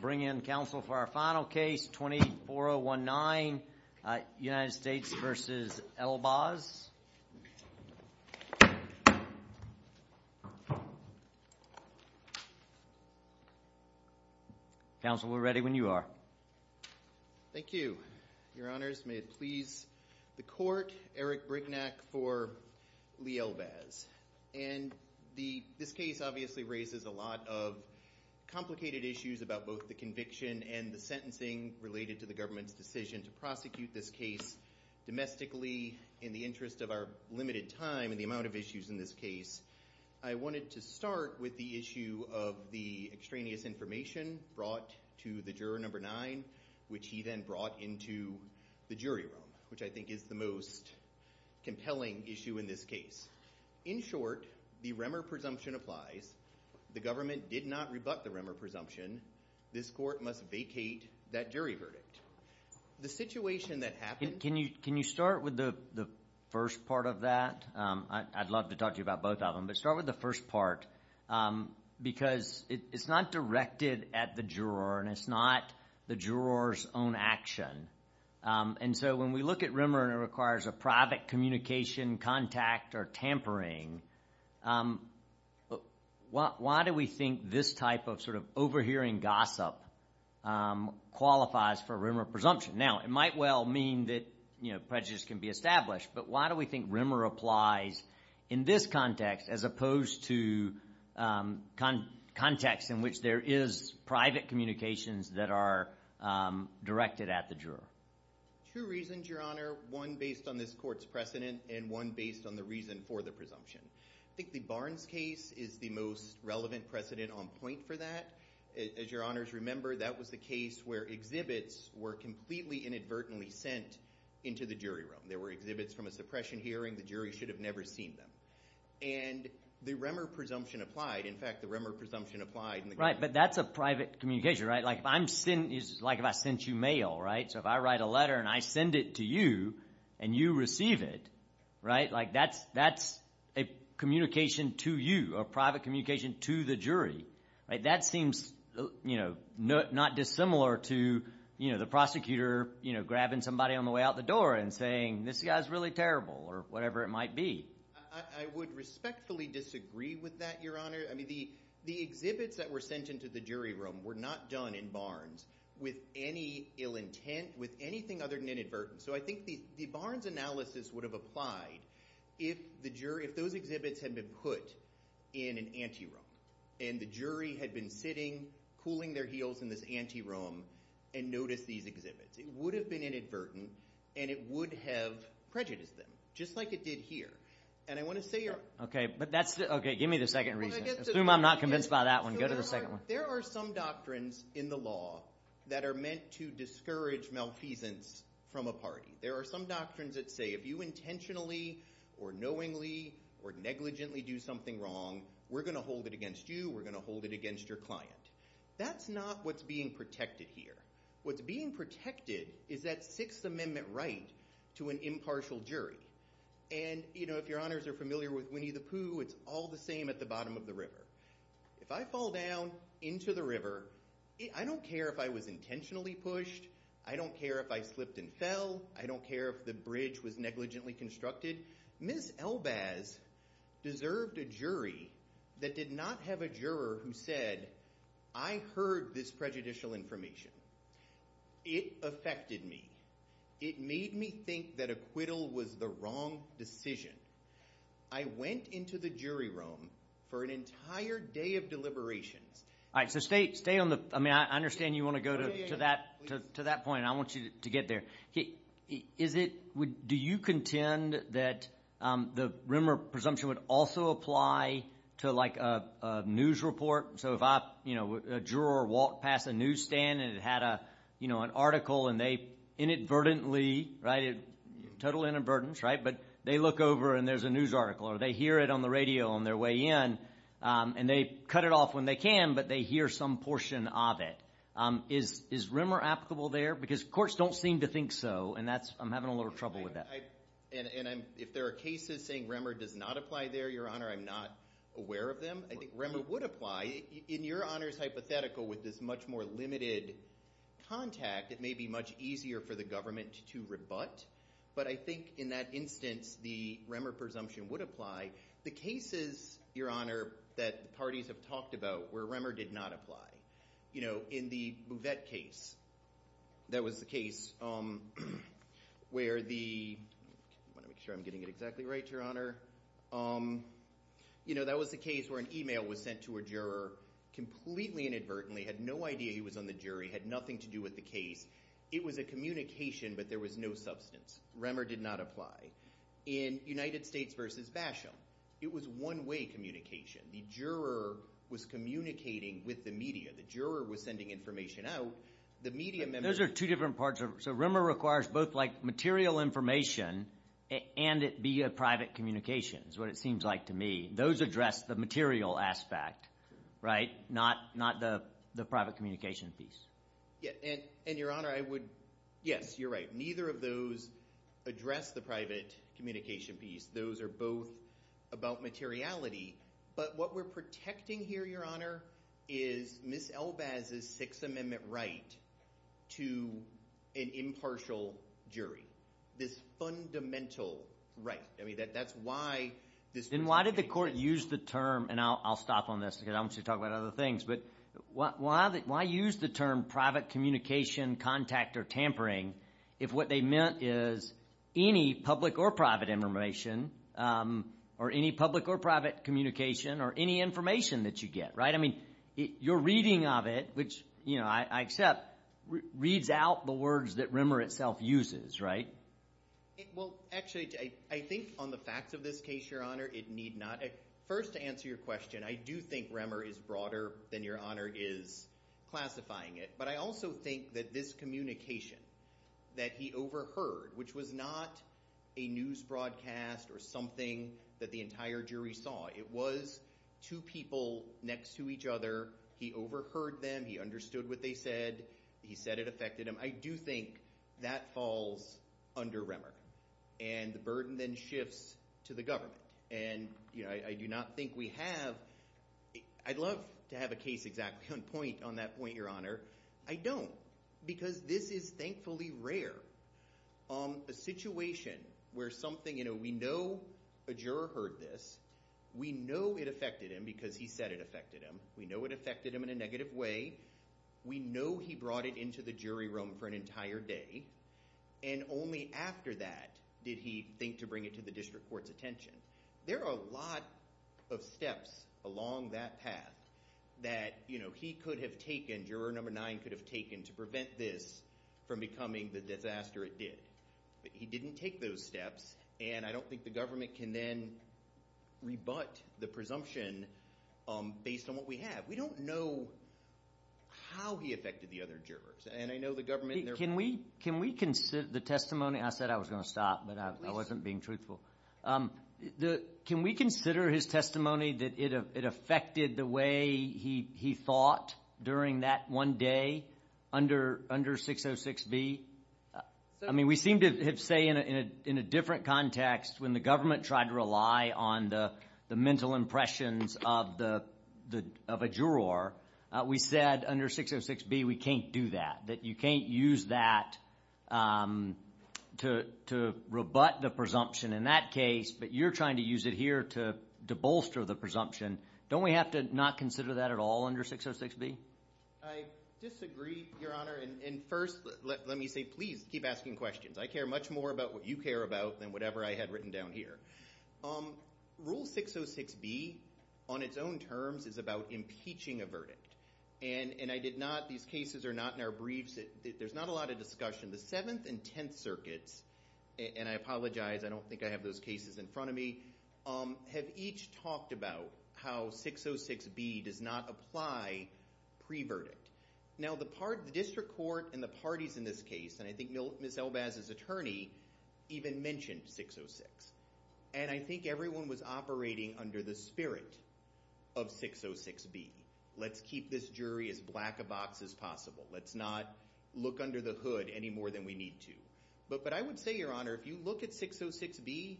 Bring in counsel for our final case, 24-019, United States v. Elbaz. Counsel we're ready when you are. Thank you. Your honors, may it please the court, Eric Brignac for Lee Elbaz. And this case obviously raises a lot of complicated issues about both the conviction and the sentencing related to the government's decision to prosecute this case domestically in the interest of our limited time and the amount of issues in this case. I wanted to start with the issue of the extraneous information brought to the juror number nine, which he then brought into the jury room, which I think is the most compelling issue in this case. In short, the Remmer presumption applies. The government did not rebut the Remmer presumption. This court must vacate that jury verdict. The situation that happened. Can you start with the first part of that? I'd love to talk to you about both of them. But start with the first part, because it's not directed at the juror and it's not the juror's own action. And so when we look at Remmer and it requires a private communication, contact, or tampering, why do we think this type of overhearing gossip qualifies for Remmer presumption? Now, it might well mean that prejudice can be established. But why do we think Remmer applies in this context, as opposed to context in which there is private communications that are directed at the juror? Two reasons, Your Honor. One based on this court's precedent and one based on the reason for the presumption. I think the Barnes case is the most relevant precedent on point for that. As Your Honors remember, that was the case where exhibits were completely inadvertently sent into the jury room. There were exhibits from a suppression hearing. The jury should have never seen them. And the Remmer presumption applied. In fact, the Remmer presumption applied. Right, but that's a private communication, right? Like if I sent you mail, right? So if I write a letter and I send it to you and you receive it, right? Like that's a communication to you, a private communication to the jury. That seems not dissimilar to the prosecutor grabbing somebody on the way out the door and saying, this guy's really terrible, or whatever it might be. I would respectfully disagree with that, Your Honor. I mean, the exhibits that were sent into the jury room were not done in Barnes with any ill intent, with anything other than inadvertent. So I think the Barnes analysis would have applied if those exhibits had been put in an ante room, and the jury had been sitting, cooling their heels in this ante room, and noticed these exhibits. It would have been inadvertent, and it would have prejudiced them, just like it did here. And I want to say, Your Honor. But that's the, OK, give me the second reason. Assume I'm not convinced by that one. Go to the second one. There are some doctrines in the law that are meant to discourage malfeasance from a party. There are some doctrines that say, if you intentionally, or knowingly, or negligently do something wrong, we're going to hold it against you. We're going to hold it against your client. That's not what's being protected here. What's being protected is that Sixth Amendment right to an impartial jury. And if Your Honors are familiar with Winnie the Pooh, it's all the same at the bottom of the river. If I fall down into the river, I don't care if I was intentionally pushed. I don't care if I slipped and fell. I don't care if the bridge was negligently constructed. Ms. Elbaz deserved a jury that did not have a juror who said, I heard this prejudicial information. It affected me. It made me think that acquittal was the wrong decision. I went into the jury room for an entire day of deliberations. All right, so stay on the, I mean, I understand you want to go to that point. I want you to get there. Do you contend that the Rimmer presumption would also apply to a news report? So if a juror walked past a newsstand and had an article, and they inadvertently, total inadvertence, but they look over and there's a news article, or they hear it on the radio on their way in, and they cut it off when they can, but they hear some portion of it, is Rimmer applicable there? Because courts don't seem to think so, and I'm having a little trouble with that. And if there are cases saying Rimmer does not apply there, Your Honor, I'm not aware of them. I think Rimmer would apply. In Your Honor's hypothetical, with this much more limited contact, it may be much easier for the government to rebut. But I think in that instance, the Rimmer presumption would apply. The cases, Your Honor, that parties have talked about where Rimmer did not apply. You know, in the Bouvette case, that was the case where the, I want to make sure I'm getting it exactly right, Your Honor, you know, that was the case where an email was sent to a juror completely inadvertently, had no idea he was on the jury, had nothing to do with the case. It was a communication, but there was no substance. Rimmer did not apply. In United States v. Basham, it was one-way communication. The juror was communicating with the media. The juror was sending information out. The media members. Those are two different parts. So Rimmer requires both, like, material information and it be a private communications, what it seems like to me. Those address the material aspect, right? Not the private communication piece. And, Your Honor, I would, yes, you're right. Neither of those address the private communication piece. Those are both about materiality. But what we're protecting here, Your Honor, is Ms. Elbaz's Sixth Amendment right to an impartial jury. This fundamental right. I mean, that's why this- And why did the court use the term, and I'll stop on this because I want to talk about other things. But why use the term private communication, contact, or tampering if what they meant is any public or private information, or any public or private communication, or any information that you get, right? I mean, your reading of it, which I accept, reads out the words that Rimmer itself uses, right? Well, actually, I think on the facts of this case, Your Honor, it need not. First, to answer your question, I do think Rimmer is broader than Your Honor is classifying it. But I also think that this communication that he overheard, which was not a news broadcast or something that the entire jury saw. It was two people next to each other. He overheard them. He understood what they said. He said it affected him. I do think that falls under Rimmer. And the burden then shifts to the government. And I do not think we have, I'd love to have a case exactly on point on that point, Your Honor. I don't. Because this is, thankfully, rare. A situation where something, we know a juror heard this. We know it affected him because he said it affected him. We know it affected him in a negative way. We know he brought it into the jury room for an entire day. And only after that did he think to bring it to the district court's attention. There are a lot of steps along that path that he could have taken, juror number nine could have taken, to prevent this from becoming the disaster it did. He didn't take those steps. And I don't think the government can then rebut the presumption based on what we have. We don't know how he affected the other jurors. And I know the government and their board. Can we consider the testimony? I said I was going to stop, but I wasn't being truthful. Can we consider his testimony that it affected the way he thought during that one day under 606B? I mean, we seem to have say in a different context when the government tried to rely on the mental impressions of a juror, we said under 606B we can't do that, that you can't use that to rebut the presumption in that case. But you're trying to use it here to bolster the presumption. Don't we have to not consider that at all under 606B? I disagree, Your Honor. And first, let me say, please keep asking questions. I care much more about what you care about than whatever I had written down here. Rule 606B on its own terms is about impeaching a verdict. And I did not, these cases are not in our briefs. There's not a lot of discussion. The Seventh and Tenth Circuits, and I apologize, I don't think I have those cases in front of me, have each talked about how 606B does not apply pre-verdict. Now, the district court and the parties in this case, and I think Ms. Elbaz's attorney even mentioned 606. And I think everyone was operating under the spirit of 606B. Let's keep this jury as black a box as possible. Let's not look under the hood any more than we need to. But I would say, Your Honor, if you look at 606B,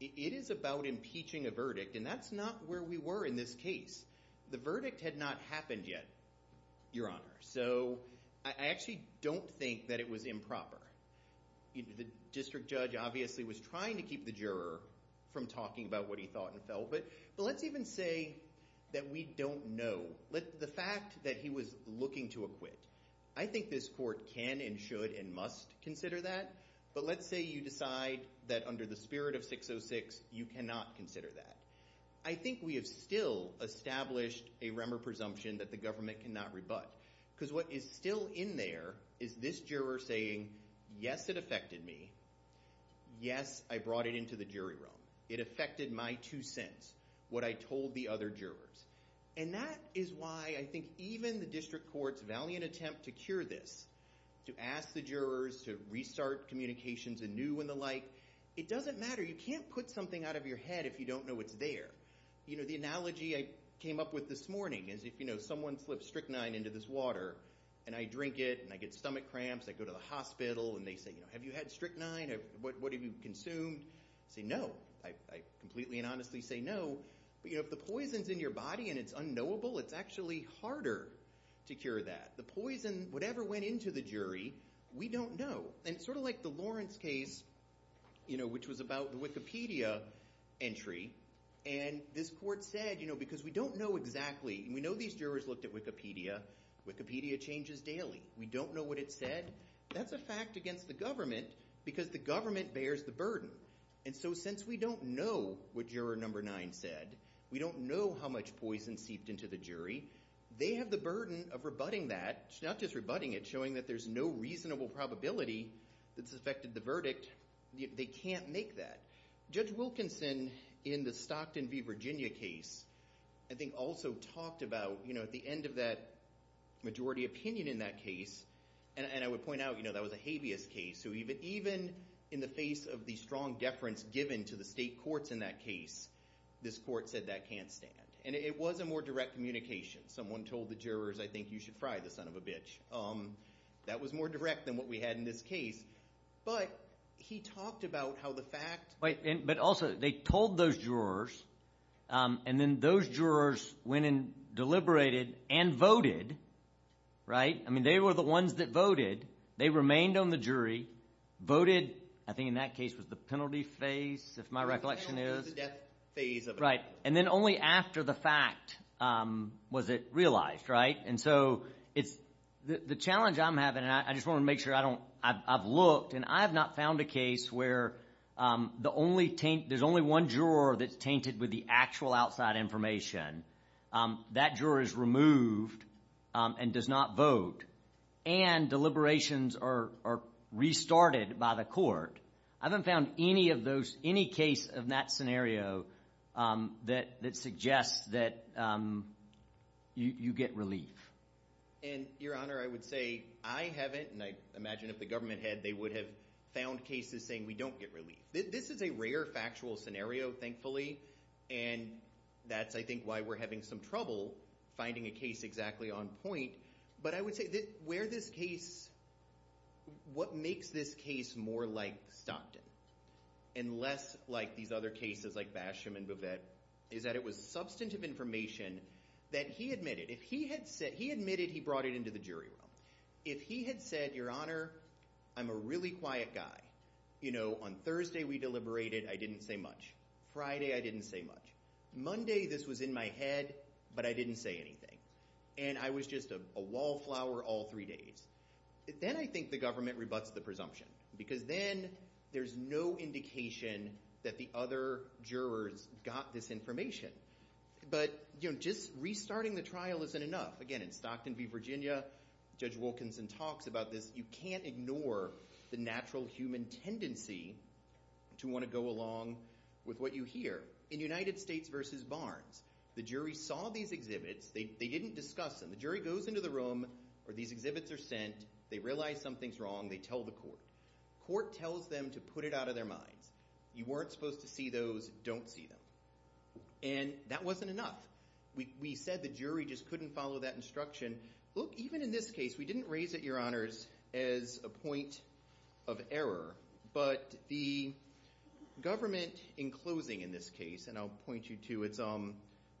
it is about impeaching a verdict. And that's not where we were in this case. The verdict had not happened yet, Your Honor. So I actually don't think that it was improper. The district judge obviously was trying to keep the juror from talking about what he thought and felt. But let's even say that we don't know the fact that he was looking to acquit. I think this court can and should and must consider that. But let's say you decide that under the spirit of 606, you cannot consider that. I think we have still established a remor presumption that the government cannot rebut. Because what is still in there is this juror saying, yes, it affected me. Yes, I brought it into the jury room. It affected my two cents, what I told the other jurors. And that is why I think even the district court's valiant attempt to cure this, to ask the jurors to restart communications anew and the like, it doesn't matter. You can't put something out of your head if you don't know what's there. The analogy I came up with this morning is if someone slips strychnine into this water, and I drink it, and I get stomach cramps, I go to the hospital, and they say, have you had strychnine? What have you consumed? I say, no. I completely and honestly say, no. But if the poison's in your body, and it's unknowable, it's actually harder to cure that. The poison, whatever went into the jury, we don't know. And it's sort of like the Lawrence case, which was about the Wikipedia entry. And this court said, because we don't know exactly. We know these jurors looked at Wikipedia. We don't know what it said. That's a fact against the government, because the government bears the burden. And so since we don't know what juror number nine said, we don't know how much poison seeped into the jury, they have the burden of rebutting that, not just rebutting it, showing that there's no reasonable probability that's affected the verdict. They can't make that. Judge Wilkinson, in the Stockton v. Virginia case, I think also talked about, at the end of that majority opinion in that case, and I would point out that was a habeas case, even in the face of the strong deference given to the state courts in that case, this court said that can't stand. And it was a more direct communication. Someone told the jurors, I think you should fry the son of a bitch. That was more direct than what we had in this case. But he talked about how the fact- But also, they told those jurors, and then those jurors went and deliberated and voted, right? I mean, they were the ones that voted. They remained on the jury, voted, I think in that case was the penalty phase, if my recollection is. The penalty was the death phase of it. Right, and then only after the fact was it realized, right? And so, the challenge I'm having, and I just want to make sure I've looked, and I have not found a case where there's only one juror that's tainted with the actual outside information. That juror is removed and does not vote. And deliberations are restarted by the court. I haven't found any of those, any case of that scenario that suggests that you get relief. And your honor, I would say I haven't, and I imagine if the government had, they would have found cases saying we don't get relief. This is a rare factual scenario, thankfully. And that's, I think, why we're having some trouble finding a case exactly on point. But I would say where this case, what makes this case more like Stockton, and less like these other cases like Basham and Bovet, is that it was substantive information that he admitted. If he had said, he admitted he brought it into the jury room. If he had said, your honor, I'm a really quiet guy. You know, on Thursday we deliberated, I didn't say much. Friday, I didn't say much. Monday, this was in my head, but I didn't say anything. And I was just a wallflower all three days. Then I think the government rebuts the presumption, because then there's no indication that the other jurors got this information. But just restarting the trial isn't enough. Again, in Stockton v. Virginia, Judge Wilkinson talks about this. You can't ignore the natural human tendency to want to go along with what you hear. In United States v. Barnes, the jury saw these exhibits, they didn't discuss them. The jury goes into the room, or these exhibits are sent, they realize something's wrong, they tell the court. Court tells them to put it out of their minds. You weren't supposed to see those, don't see them. And that wasn't enough. We said the jury just couldn't follow that instruction. Look, even in this case, we didn't raise it, your honors, as a point of error, but the government, in closing in this case, and I'll point you to, it's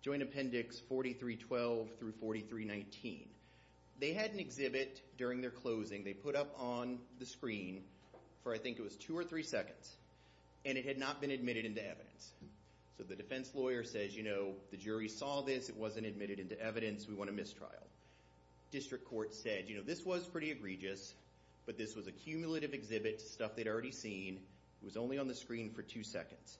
Joint Appendix 4312 through 4319. They had an exhibit during their closing, they put up on the screen for, I think, it was two or three seconds, and it had not been admitted into evidence. So the defense lawyer says, you know, the jury saw this, it wasn't admitted into evidence, we want to mistrial. District court said, you know, this was pretty egregious, but this was a cumulative exhibit, stuff they'd already seen, it was only on the screen for two seconds.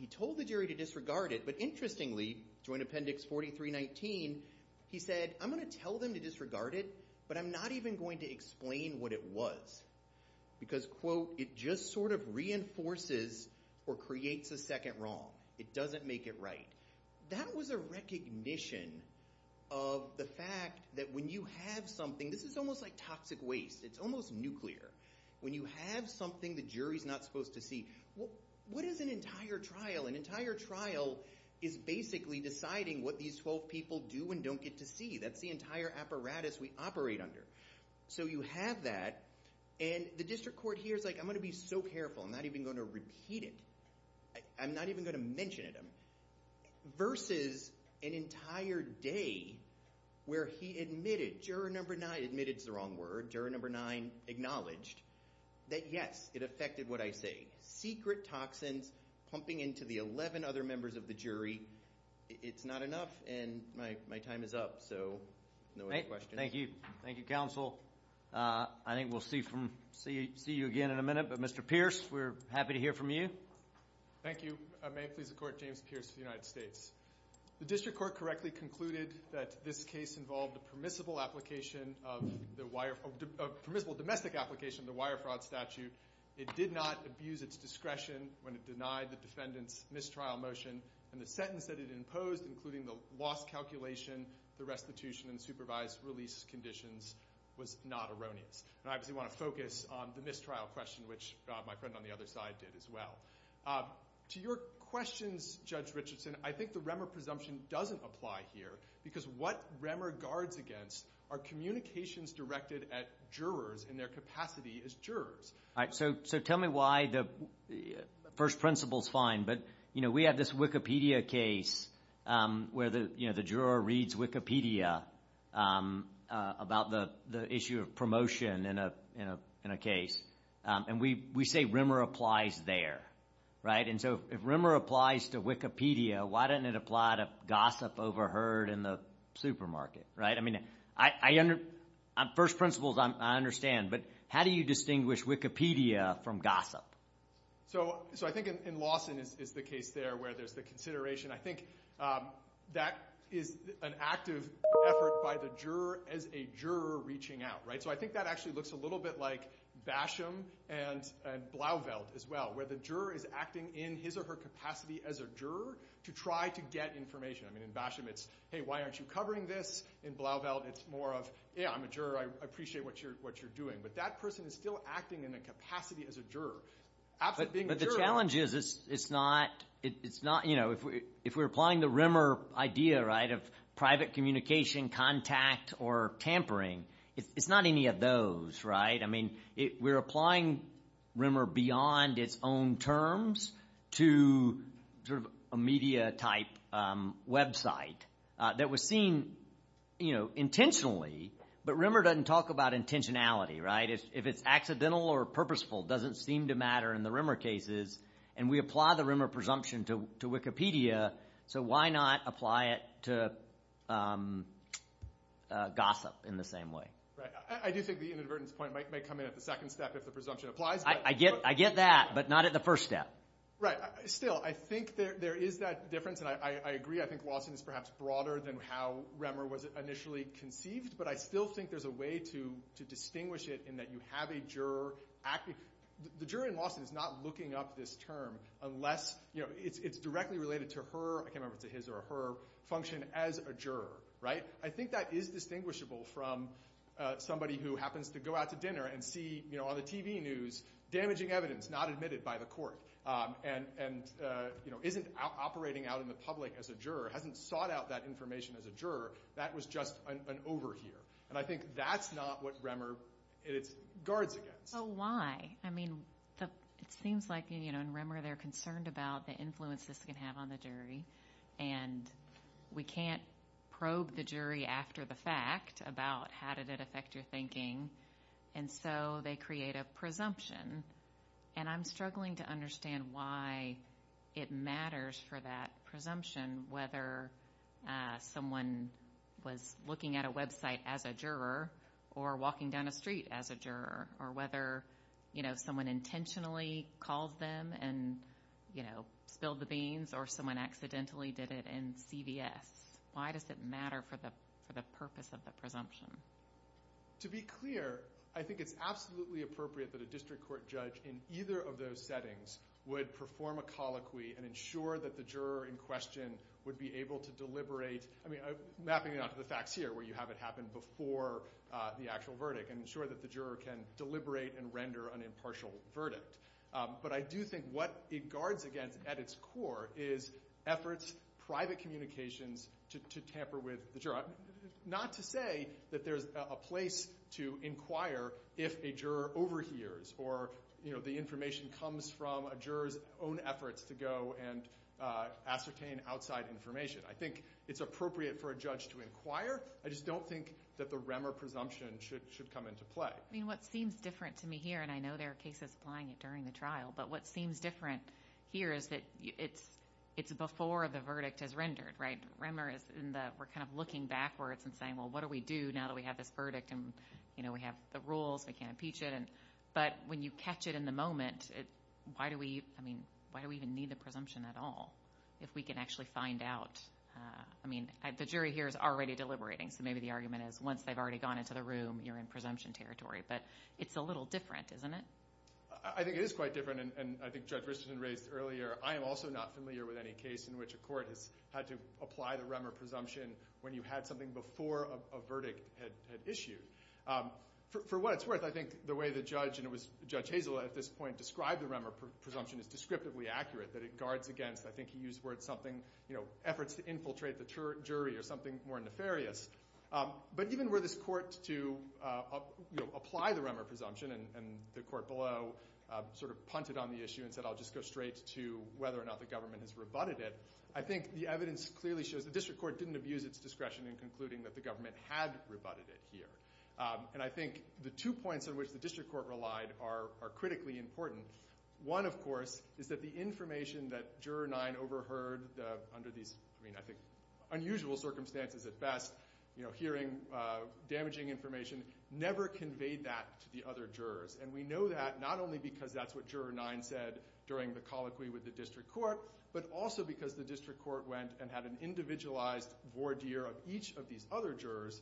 He told the jury to disregard it, but interestingly, Joint Appendix 4319, he said, I'm gonna tell them to disregard it, but I'm not even going to explain what it was. Because, quote, it just sort of reinforces or creates a second wrong. It doesn't make it right. That was a recognition of the fact that when you have something, this is almost like toxic waste, it's almost nuclear. When you have something the jury's not supposed to see, what is an entire trial? An entire trial is basically deciding what these 12 people do and don't get to see. That's the entire apparatus we operate under. So you have that, and the district court here's like, I'm gonna be so careful, I'm not even gonna repeat it. I'm not even gonna mention it. Versus an entire day where he admitted, juror number nine admitted's the wrong word, juror number nine acknowledged, that yes, it affected what I say. Secret toxins pumping into the 11 other members of the jury. It's not enough, and my time is up. So no more questions. Thank you, thank you, counsel. I think we'll see you again in a minute. But Mr. Pierce, we're happy to hear from you. Thank you. May it please the court, James Pierce of the United States. The district court correctly concluded that this case involved a permissible application of the wire, a permissible domestic application of the wire fraud statute. It did not abuse its discretion when it denied the defendant's mistrial motion. And the sentence that it imposed, including the lost calculation, the restitution and supervised release conditions was not erroneous. And I obviously wanna focus on the mistrial question, which my friend on the other side did as well. To your questions, Judge Richardson, I think the Remmer presumption doesn't apply here, because what Remmer guards against are communications directed at jurors in their capacity as jurors. So tell me why the first principle's fine, but we have this Wikipedia case where the juror reads Wikipedia about the issue of promotion in a case. And we say Remmer applies there, right? And so if Remmer applies to Wikipedia, why doesn't it apply to gossip overheard in the supermarket, right? I mean, first principles I understand, but how do you distinguish Wikipedia from gossip? So I think in Lawson is the case there where there's the consideration. I think that is an active effort by the juror as a juror reaching out, right? So I think that actually looks a little bit like Basham and Blauvelt as well, where the juror is acting in his or her capacity as a juror to try to get information. I mean, in Basham, it's, hey, why aren't you covering this? In Blauvelt, it's more of, yeah, I'm a juror, I appreciate what you're doing, but that person is still acting in a capacity as a juror. Absolutely being a juror- But the challenge is it's not, it's not, if we're applying the Remmer idea, right, of private communication, contact, or tampering, it's not any of those, right? I mean, we're applying Remmer beyond its own terms to sort of a media type website that was seen intentionally, but Remmer doesn't talk about intentionality, right? If it's accidental or purposeful, doesn't seem to matter in the Remmer cases, and we apply the Remmer presumption to Wikipedia, so why not apply it to gossip in the same way? Right, I do think the inadvertence point might come in at the second step if the presumption applies, but- I get that, but not at the first step. Right, still, I think there is that difference, and I agree, I think Lawson is perhaps broader than how Remmer was initially conceived, but I still think there's a way to distinguish it in that you have a juror, the juror in Lawson is not looking up this term unless it's directly related to her, I can't remember if it's a his or a her, function as a juror, right? I think that is distinguishable from somebody who happens to go out to dinner and see on the TV news damaging evidence not admitted by the court, and isn't operating out in the public as a juror, hasn't sought out that information as a juror, that was just an overhear, and I think that's not what Remmer guards against. So why? I mean, it seems like in Remmer they're concerned about the influence this can have on the jury, and we can't probe the jury after the fact about how did it affect your thinking, and so they create a presumption, and I'm struggling to understand why it matters for that presumption whether someone was looking at a website as a juror, or walking down a street as a juror, or whether someone intentionally called them and spilled the beans, or someone accidentally did it in CVS. Why does it matter for the purpose of the presumption? To be clear, I think it's absolutely appropriate that a district court judge in either of those settings would perform a colloquy and ensure that the juror in question would be able to deliberate, I mean, mapping it out to the facts here where you have it happen before the actual verdict, and ensure that the juror can deliberate and render an impartial verdict. But I do think what it guards against at its core is efforts, private communications, to tamper with the juror. Not to say that there's a place to inquire if a juror overhears, or the information comes from a juror's own efforts to go and ascertain outside information. I think it's appropriate for a judge to inquire. I just don't think that the Remmer presumption should come into play. I mean, what seems different to me here, and I know there are cases applying it during the trial, but what seems different here is that it's before the verdict is rendered, right? Remmer is in the, we're kind of looking backwards and saying, well, what do we do now that we have this verdict and we have the rules, we can't impeach it. But when you catch it in the moment, why do we even need the presumption at all if we can actually find out? I mean, the jury here is already deliberating, so maybe the argument is once they've already gone into the room, you're in presumption territory. But it's a little different, isn't it? I think it is quite different, and I think Judge Richardson raised earlier, I am also not familiar with any case in which a court has had to apply the Remmer presumption when you had something before a verdict had issued. For what it's worth, I think the way the judge, and it was Judge Hazel at this point, described the Remmer presumption as descriptively accurate, that it guards against, I think he used the word something, efforts to infiltrate the jury or something more nefarious. But even where this court to apply the Remmer presumption, and the court below sort of punted on the issue and said, I'll just go straight to whether or not the government has rebutted it, I think the evidence clearly shows the district court didn't abuse its discretion in concluding that the government had rebutted it here. And I think the two points in which the district court relied are critically important. One, of course, is that the information that Juror 9 overheard under these, I mean, I think, unusual circumstances at best, you know, hearing damaging information, never conveyed that to the other jurors. And we know that not only because that's what Juror 9 said during the colloquy with the district court, but also because the district court went and had an individualized voir dire of each of these other jurors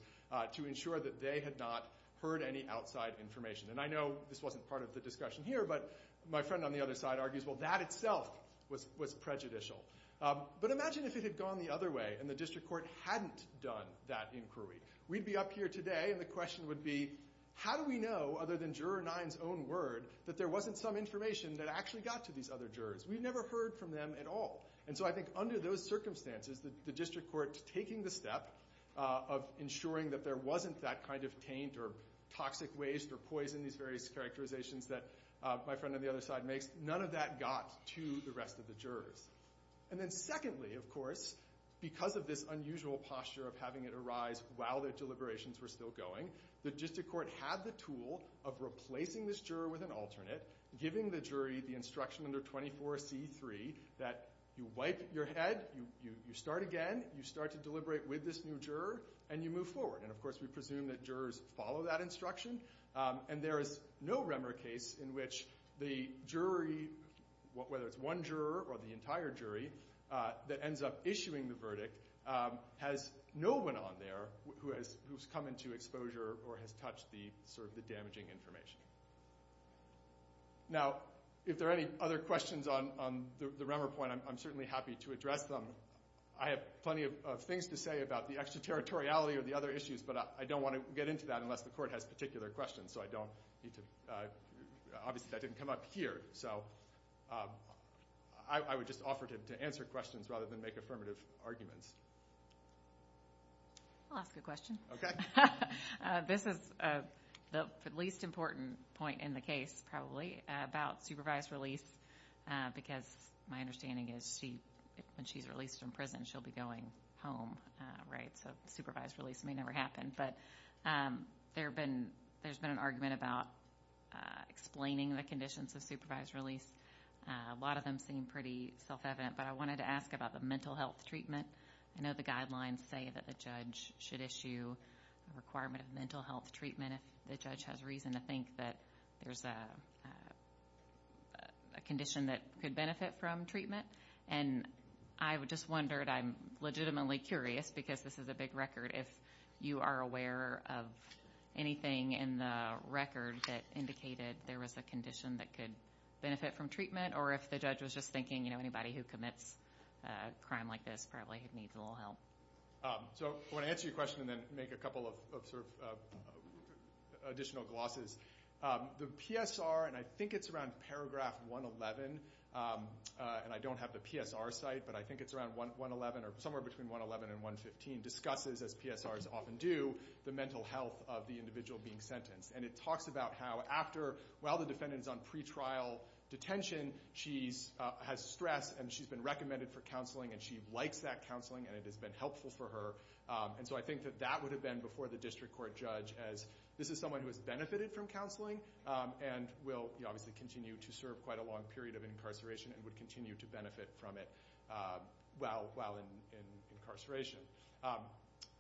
to ensure that they had not heard any outside information. And I know this wasn't part of the discussion here, but my friend on the other side argues, well, that itself was prejudicial. But imagine if it had gone the other way and the district court hadn't done that inquiry. We'd be up here today and the question would be, how do we know, other than Juror 9's own word, that there wasn't some information that actually got to these other jurors? We've never heard from them at all. And so I think under those circumstances, the district court taking the step of ensuring that there wasn't that kind of taint or toxic waste or poison, these various characterizations that my friend on the other side makes, none of that got to the rest of the jurors. And then secondly, of course, because of this unusual posture of having it arise while the deliberations were still going, the district court had the tool of replacing this juror with an alternate, giving the jury the instruction under 24C3 that you wipe your head, you start again, you start to deliberate with this new juror, and you move forward. And of course, we presume that jurors follow that instruction. And there is no Remmer case in which the jury, whether it's one juror or the entire jury, that ends up issuing the verdict, has no one on there who's come into exposure or has touched the damaging information. Now, if there are any other questions on the Remmer point, I'm certainly happy to address them. I have plenty of things to say about the extraterritoriality of the other issues, but I don't want to get into that unless the court has particular questions. So I don't need to, obviously that didn't come up here. So I would just offer to answer questions rather than make affirmative arguments. I'll ask a question. Okay. This is the least important point in the case, probably, about supervised release, because my understanding is when she's released from prison, she'll be going home, right? So supervised release may never happen. But there's been an argument about explaining the conditions of supervised release. A lot of them seem pretty self-evident, but I wanted to ask about the mental health treatment. I know the guidelines say that the judge should issue a requirement of mental health treatment if the judge has reason to think that there's a condition that could benefit from treatment. And I just wondered, I'm legitimately curious, because this is a big record, if you are aware of anything in the record that indicated there was a condition that could benefit from treatment, or if the judge was just thinking, you know, anybody who commits a crime like this probably needs a little help. So I want to answer your question and then make a couple of sort of additional glosses. The PSR, and I think it's around paragraph 111, and I don't have the PSR site, but I think it's around 111, or somewhere between 111 and 115, discusses, as PSRs often do, the mental health of the individual being sentenced. And it talks about how after, while the defendant's on pretrial detention, she has stress and she's been recommended for counseling and she likes that counseling and it has been helpful for her. And so I think that that would have been before the district court judge, as this is someone who has benefited from counseling and will obviously continue to serve quite a long period of incarceration and would continue to benefit from it while in incarceration.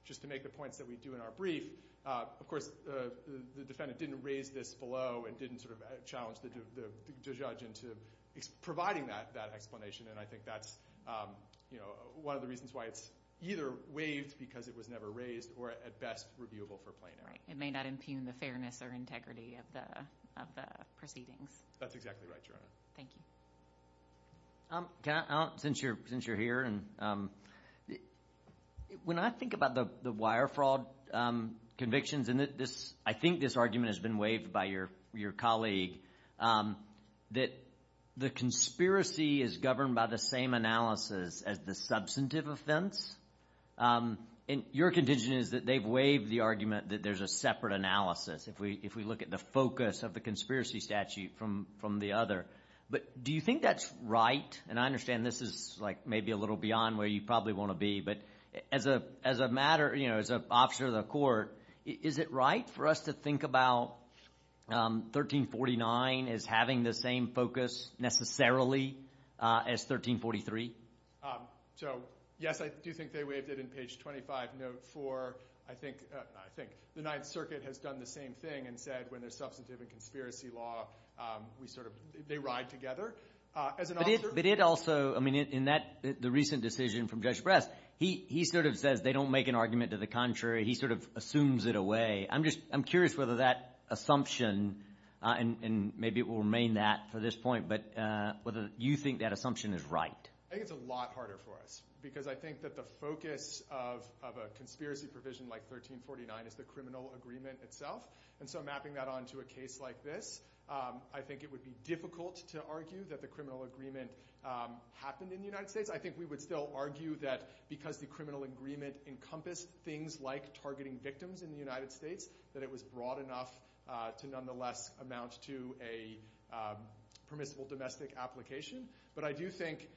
Just to make the points that we do in our brief, of course, the defendant didn't raise this below and didn't sort of challenge the judge into providing that explanation. And I think that's, you know, one of the reasons why it's either waived because it was never raised or, at best, reviewable for plaintiff. Right, it may not impugn the fairness or integrity of the proceedings. That's exactly right, Your Honor. Thank you. Since you're here, and when I think about the wire fraud convictions and I think this argument has been waived by your colleague, that the conspiracy is governed by the same analysis as the substantive offense, and your conviction is that they've waived the argument that there's a separate analysis if we look at the focus of the conspiracy statute from the other. But do you think that's right? And I understand this is, like, maybe a little beyond where you probably wanna be, but as a matter, you know, as an officer of the court, is it right for us to think about 1349 as having the same focus, necessarily, as 1343? So, yes, I do think they waived it in page 25, note four. I think the Ninth Circuit has done the same thing and said, when there's substantive and conspiracy law, we sort of, they ride together. As an officer- But it also, I mean, in that, the recent decision from Judge Press, he sort of says they don't make an argument to the contrary. He sort of assumes it away. I'm just, I'm curious whether that assumption and maybe it will remain that for this point, but whether you think that assumption is right. I think it's a lot harder for us because I think that the focus of a conspiracy provision like 1349 is the criminal agreement itself. And so mapping that onto a case like this, I think it would be difficult to argue that the criminal agreement happened in the United States. I think we would still argue that because the criminal agreement encompassed things like targeting victims in the United States, that it was broad enough to nonetheless amount to a permissible domestic application. But I do think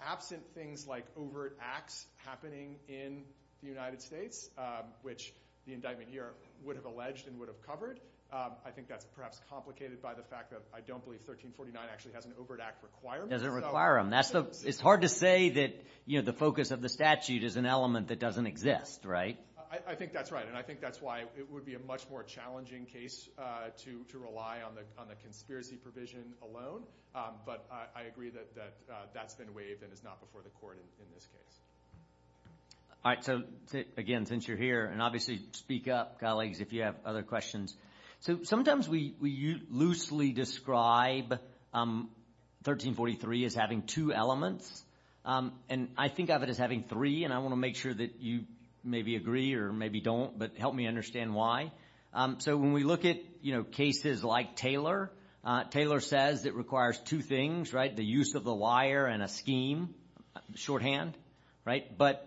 absent things like overt acts happening in the United States, which the indictment here would have alleged and would have covered, I think that's perhaps complicated by the fact that I don't believe 1349 actually has an overt act requirement. Does it require them? It's hard to say that, you know, the focus of the statute is an element that doesn't exist, right? I think that's right. And I think that's why it would be a much more challenging case to rely on the conspiracy provision alone. But I agree that that's been waived and is not before the court in this case. All right, so again, since you're here, and obviously speak up, colleagues, if you have other questions. So sometimes we loosely describe 1343 as having two elements. And I think of it as having three, and I wanna make sure that you maybe agree or maybe don't, but help me understand why. So when we look at cases like Taylor, Taylor says it requires two things, right? The use of the wire and a scheme, shorthand, right? But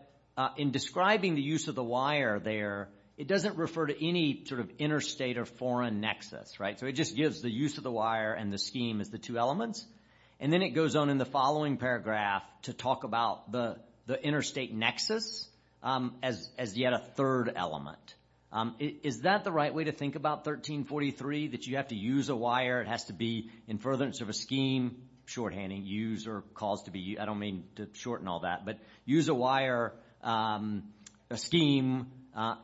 in describing the use of the wire there, it doesn't refer to any sort of interstate or foreign nexus, right? So it just gives the use of the wire and the scheme as the two elements. And then it goes on in the following paragraph to talk about the interstate nexus as yet a third element. Is that the right way to think about 1343, that you have to use a wire, it has to be in furtherance of a scheme, shorthand, use or cause to be, I don't mean to shorten all that, but use a wire, a scheme,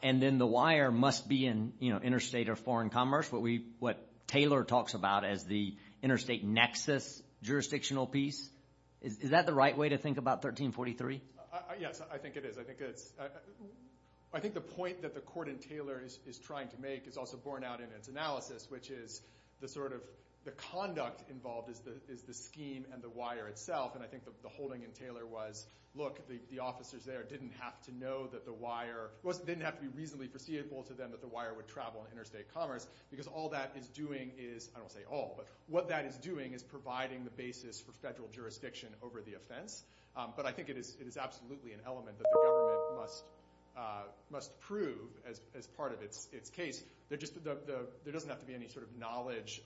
and then the wire must be in interstate or foreign commerce, what Taylor talks about as the interstate nexus jurisdictional piece. Is that the right way to think about 1343? Yes, I think it is. I think the point that the court in Taylor is trying to make is also borne out in its analysis, which is the sort of the conduct involved is the scheme and the wire itself. And I think the holding in Taylor was, look, the officers there didn't have to know that the wire, wasn't didn't have to be reasonably foreseeable to them that the wire would travel in interstate commerce, because all that is doing is, I don't say all, but what that is doing is providing the basis for federal jurisdiction over the offense. But I think it is absolutely an element that the government must prove as part of its case. There doesn't have to be any sort of knowledge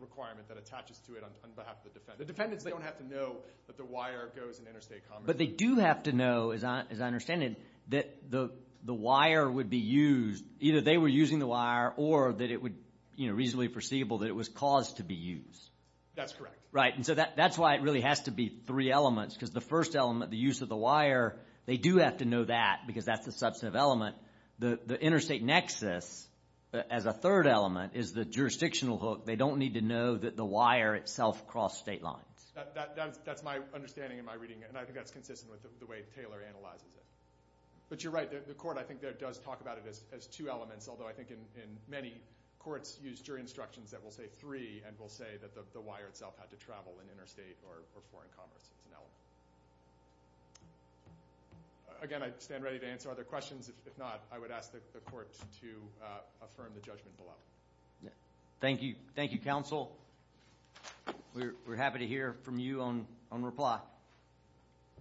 requirement that attaches to it on behalf of the defendant. The defendants, they don't have to know that the wire goes in interstate commerce. But they do have to know, as I understand it, that the wire would be used, either they were using the wire or that it would reasonably foreseeable that it was caused to be used. That's correct. Right, and so that's why it really has to be three elements because the first element, the use of the wire, they do have to know that because that's the substantive element. The interstate nexus as a third element is the jurisdictional hook. They don't need to know that the wire itself crossed state lines. That's my understanding in my reading. And I think that's consistent with the way Taylor analyzes it. But you're right, the court, I think there does talk about it as two elements. Although I think in many courts use jury instructions that will say three and will say that the wire itself had to travel in interstate or foreign commerce. It's an element. Again, I stand ready to answer other questions. If not, I would ask the court to affirm the judgment below. Thank you, thank you, counsel. We're happy to hear from you on reply.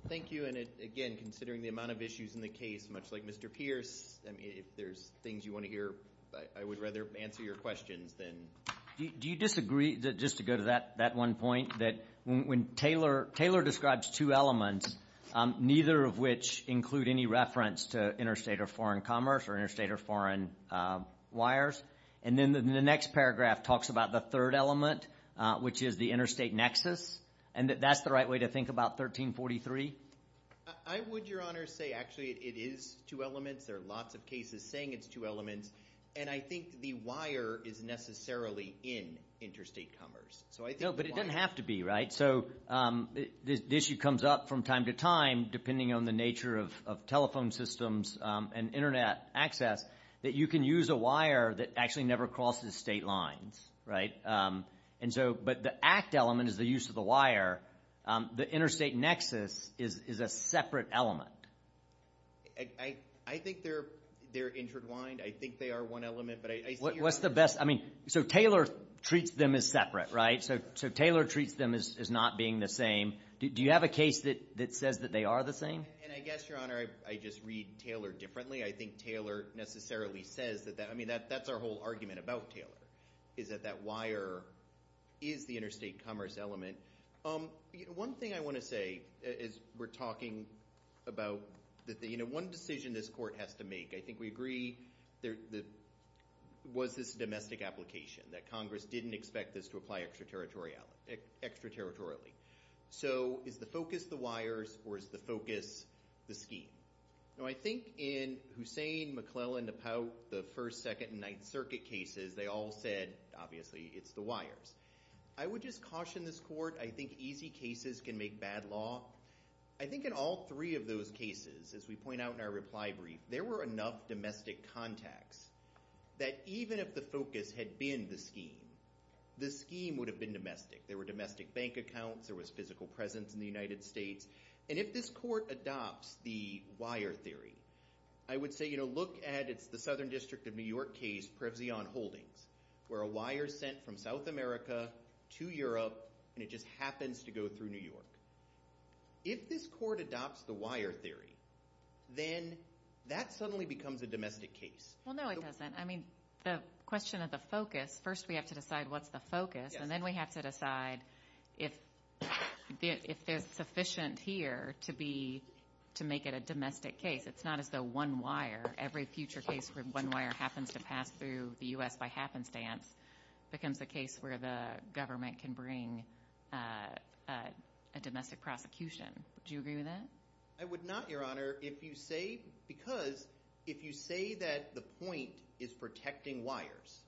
Thank you, and again, considering the amount of issues in the case, much like Mr. Pierce, I mean, if there's things you wanna hear, I would rather answer your questions than. Do you disagree, just to go to that one point, that when Taylor describes two elements, neither of which include any reference to interstate or foreign commerce or interstate or foreign wires. And then the next paragraph talks about the third element, which is the interstate nexus. And that that's the right way to think about 1343. I would, Your Honor, say actually it is two elements. There are lots of cases saying it's two elements. And I think the wire is necessarily in interstate commerce. So I think the wire. No, but it doesn't have to be, right? So the issue comes up from time to time, depending on the nature of telephone systems and internet access, that you can use a wire that actually never crosses state lines, right? And so, but the act element is the use of the wire. The interstate nexus is a separate element. I think they're intertwined. I think they are one element, but I see your point. What's the best, I mean, so Taylor treats them as separate, right? So Taylor treats them as not being the same. Do you have a case that says that they are the same? And I guess, Your Honor, I just read Taylor differently. I think Taylor necessarily says that that, I mean, that's our whole argument about Taylor, is that that wire is the interstate commerce element. One thing I wanna say, as we're talking about, one decision this court has to make, I think we agree, was this domestic application, that Congress didn't expect this to apply extraterritorial, extraterritorially. So is the focus the wires, or is the focus the scheme? Now, I think in Hussein, McClellan, Napout, the First, Second, and Ninth Circuit cases, they all said, obviously, it's the wires. I would just caution this court. I think easy cases can make bad law. I think in all three of those cases, as we point out in our reply brief, there were enough domestic contacts that even if the focus had been the scheme, the scheme would have been domestic. There were domestic bank accounts. There was physical presence in the United States. And if this court adopts the wire theory, I would say, look at, it's the Southern District of New York case, Prevzion Holdings, where a wire's sent from South America to Europe, and it just happens to go through New York. If this court adopts the wire theory, then that suddenly becomes a domestic case. Well, no, it doesn't. I mean, the question of the focus, first, we have to decide what's the focus, and then we have to decide if there's sufficient here to make it a domestic case. It's not as though one wire, every future case where one wire happens to pass through the U.S. by happenstance becomes a case where the government can bring a domestic prosecution. Would you agree with that? I would not, Your Honor, if you say, because if you say that the point is protecting wires,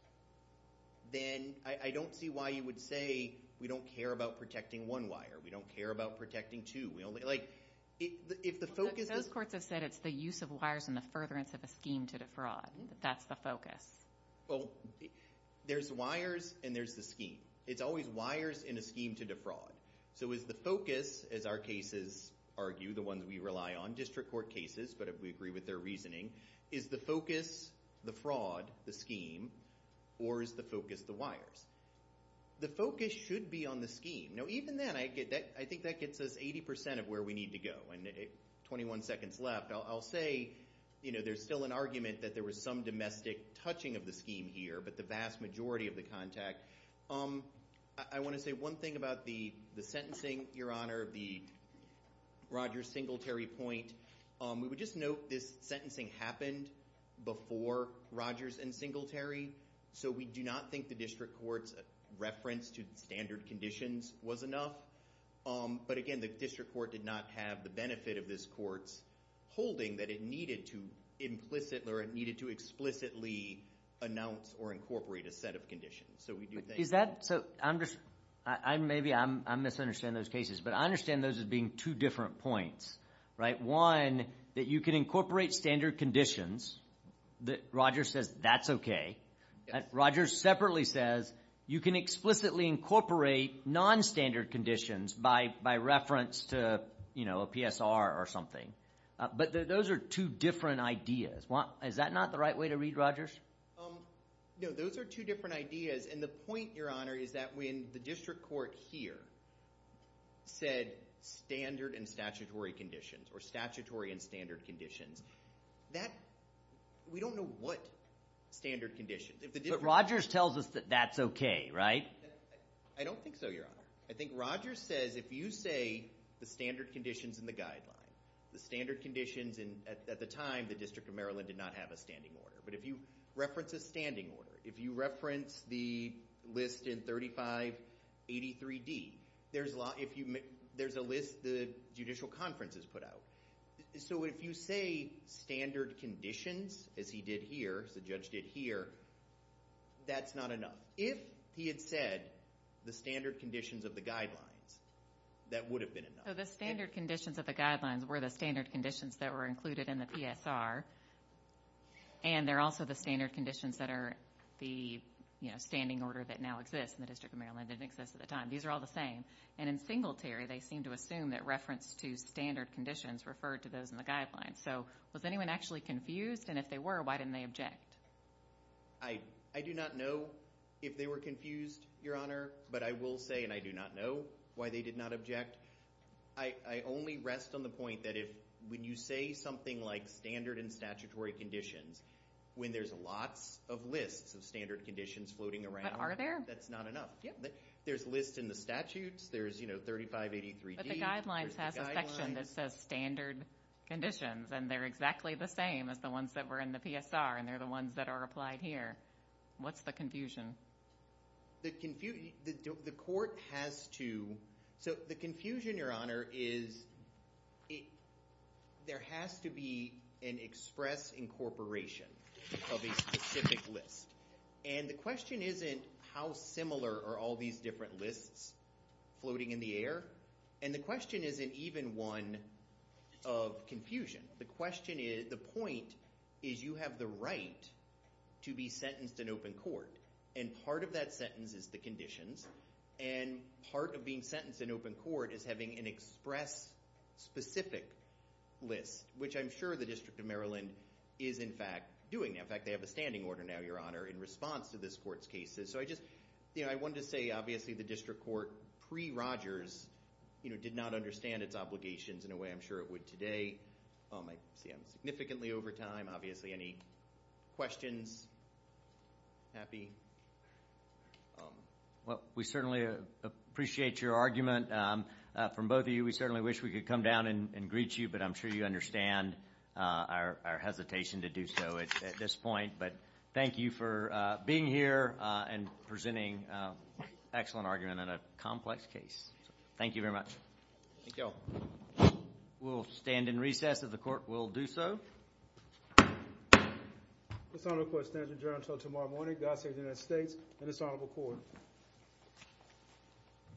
then I don't see why you would say we don't care about protecting one wire. We don't care about protecting two. Like, if the focus- Those courts have said it's the use of wires and the furtherance of a scheme to defraud. That's the focus. Well, there's wires and there's the scheme. It's always wires and a scheme to defraud. So is the focus, as our cases argue, the ones we rely on, district court cases, but we agree with their reasoning, is the focus the fraud, the scheme, or is the focus the wires? The focus should be on the scheme. Now, even then, I think that gets us 80% of where we need to go, and 21 seconds left. I'll say there's still an argument that there was some domestic touching of the scheme here, I wanna say one thing about the sentencing, Your Honor, of the Rogers-Singletary point. We would just note this sentencing happened before Rogers and Singletary, so we do not think the district court's reference to standard conditions was enough. But again, the district court did not have the benefit of this court's holding that it needed to implicitly or it needed to explicitly announce or incorporate a set of conditions. So we do think- Is that, so I'm just, maybe I'm misunderstanding those cases, but I understand those as being two different points, right? One, that you can incorporate standard conditions, that Rogers says that's okay. Rogers separately says you can explicitly incorporate non-standard conditions by reference to a PSR or something. But those are two different ideas. Is that not the right way to read, Rogers? No, those are two different ideas, and the point, Your Honor, is that when the district court here said standard and statutory conditions, or statutory and standard conditions, that, we don't know what standard conditions, if the district- But Rogers tells us that that's okay, right? I don't think so, Your Honor. I think Rogers says if you say the standard conditions in the guideline, the standard conditions in, at the time, the District of Maryland did not have a standing order, but if you reference a standing order, if you reference the list in 3583D, there's a list the Judicial Conference has put out. So if you say standard conditions, as he did here, as the judge did here, that's not enough. If he had said the standard conditions of the guidelines, that would have been enough. So the standard conditions of the guidelines were the standard conditions that were included in the PSR, and they're also the standard conditions that are the standing order that now exists in the District of Maryland, that didn't exist at the time. These are all the same. And in Singletary, they seem to assume that reference to standard conditions referred to those in the guidelines. So was anyone actually confused? And if they were, why didn't they object? I do not know if they were confused, Your Honor, but I will say, and I do not know why they did not object, I only rest on the point that if, when you say something like standard and statutory conditions when there's lots of lists of standard conditions floating around. But are there? That's not enough. There's lists in the statutes. There's 3583D. But the guidelines has a section that says standard conditions, and they're exactly the same as the ones that were in the PSR, and they're the ones that are applied here. What's the confusion? The court has to, so the confusion, Your Honor, is there has to be an express incorporation of a specific list. And the question isn't how similar are all these different lists floating in the air. And the question isn't even one of confusion. The question is, the point is you have the right to be sentenced in open court. And part of that sentence is the conditions. And part of being sentenced in open court is having an express specific list, which I'm sure the District of Maryland is, in fact, doing. In fact, they have a standing order now, Your Honor, in response to this court's cases. So I just, I wanted to say, obviously, the District Court, pre-Rogers, did not understand its obligations in a way I'm sure it would today. I see I'm significantly over time. Obviously, any questions? Happy? Well, we certainly appreciate your argument from both of you. We certainly wish we could come down and greet you, but I'm sure you understand our hesitation to do so at this point. But thank you for being here and presenting an excellent argument in a complex case. Thank you very much. Thank y'all. We'll stand in recess if the court will do so. This honorable court stands adjourned until tomorrow morning. God save the United States and this honorable court.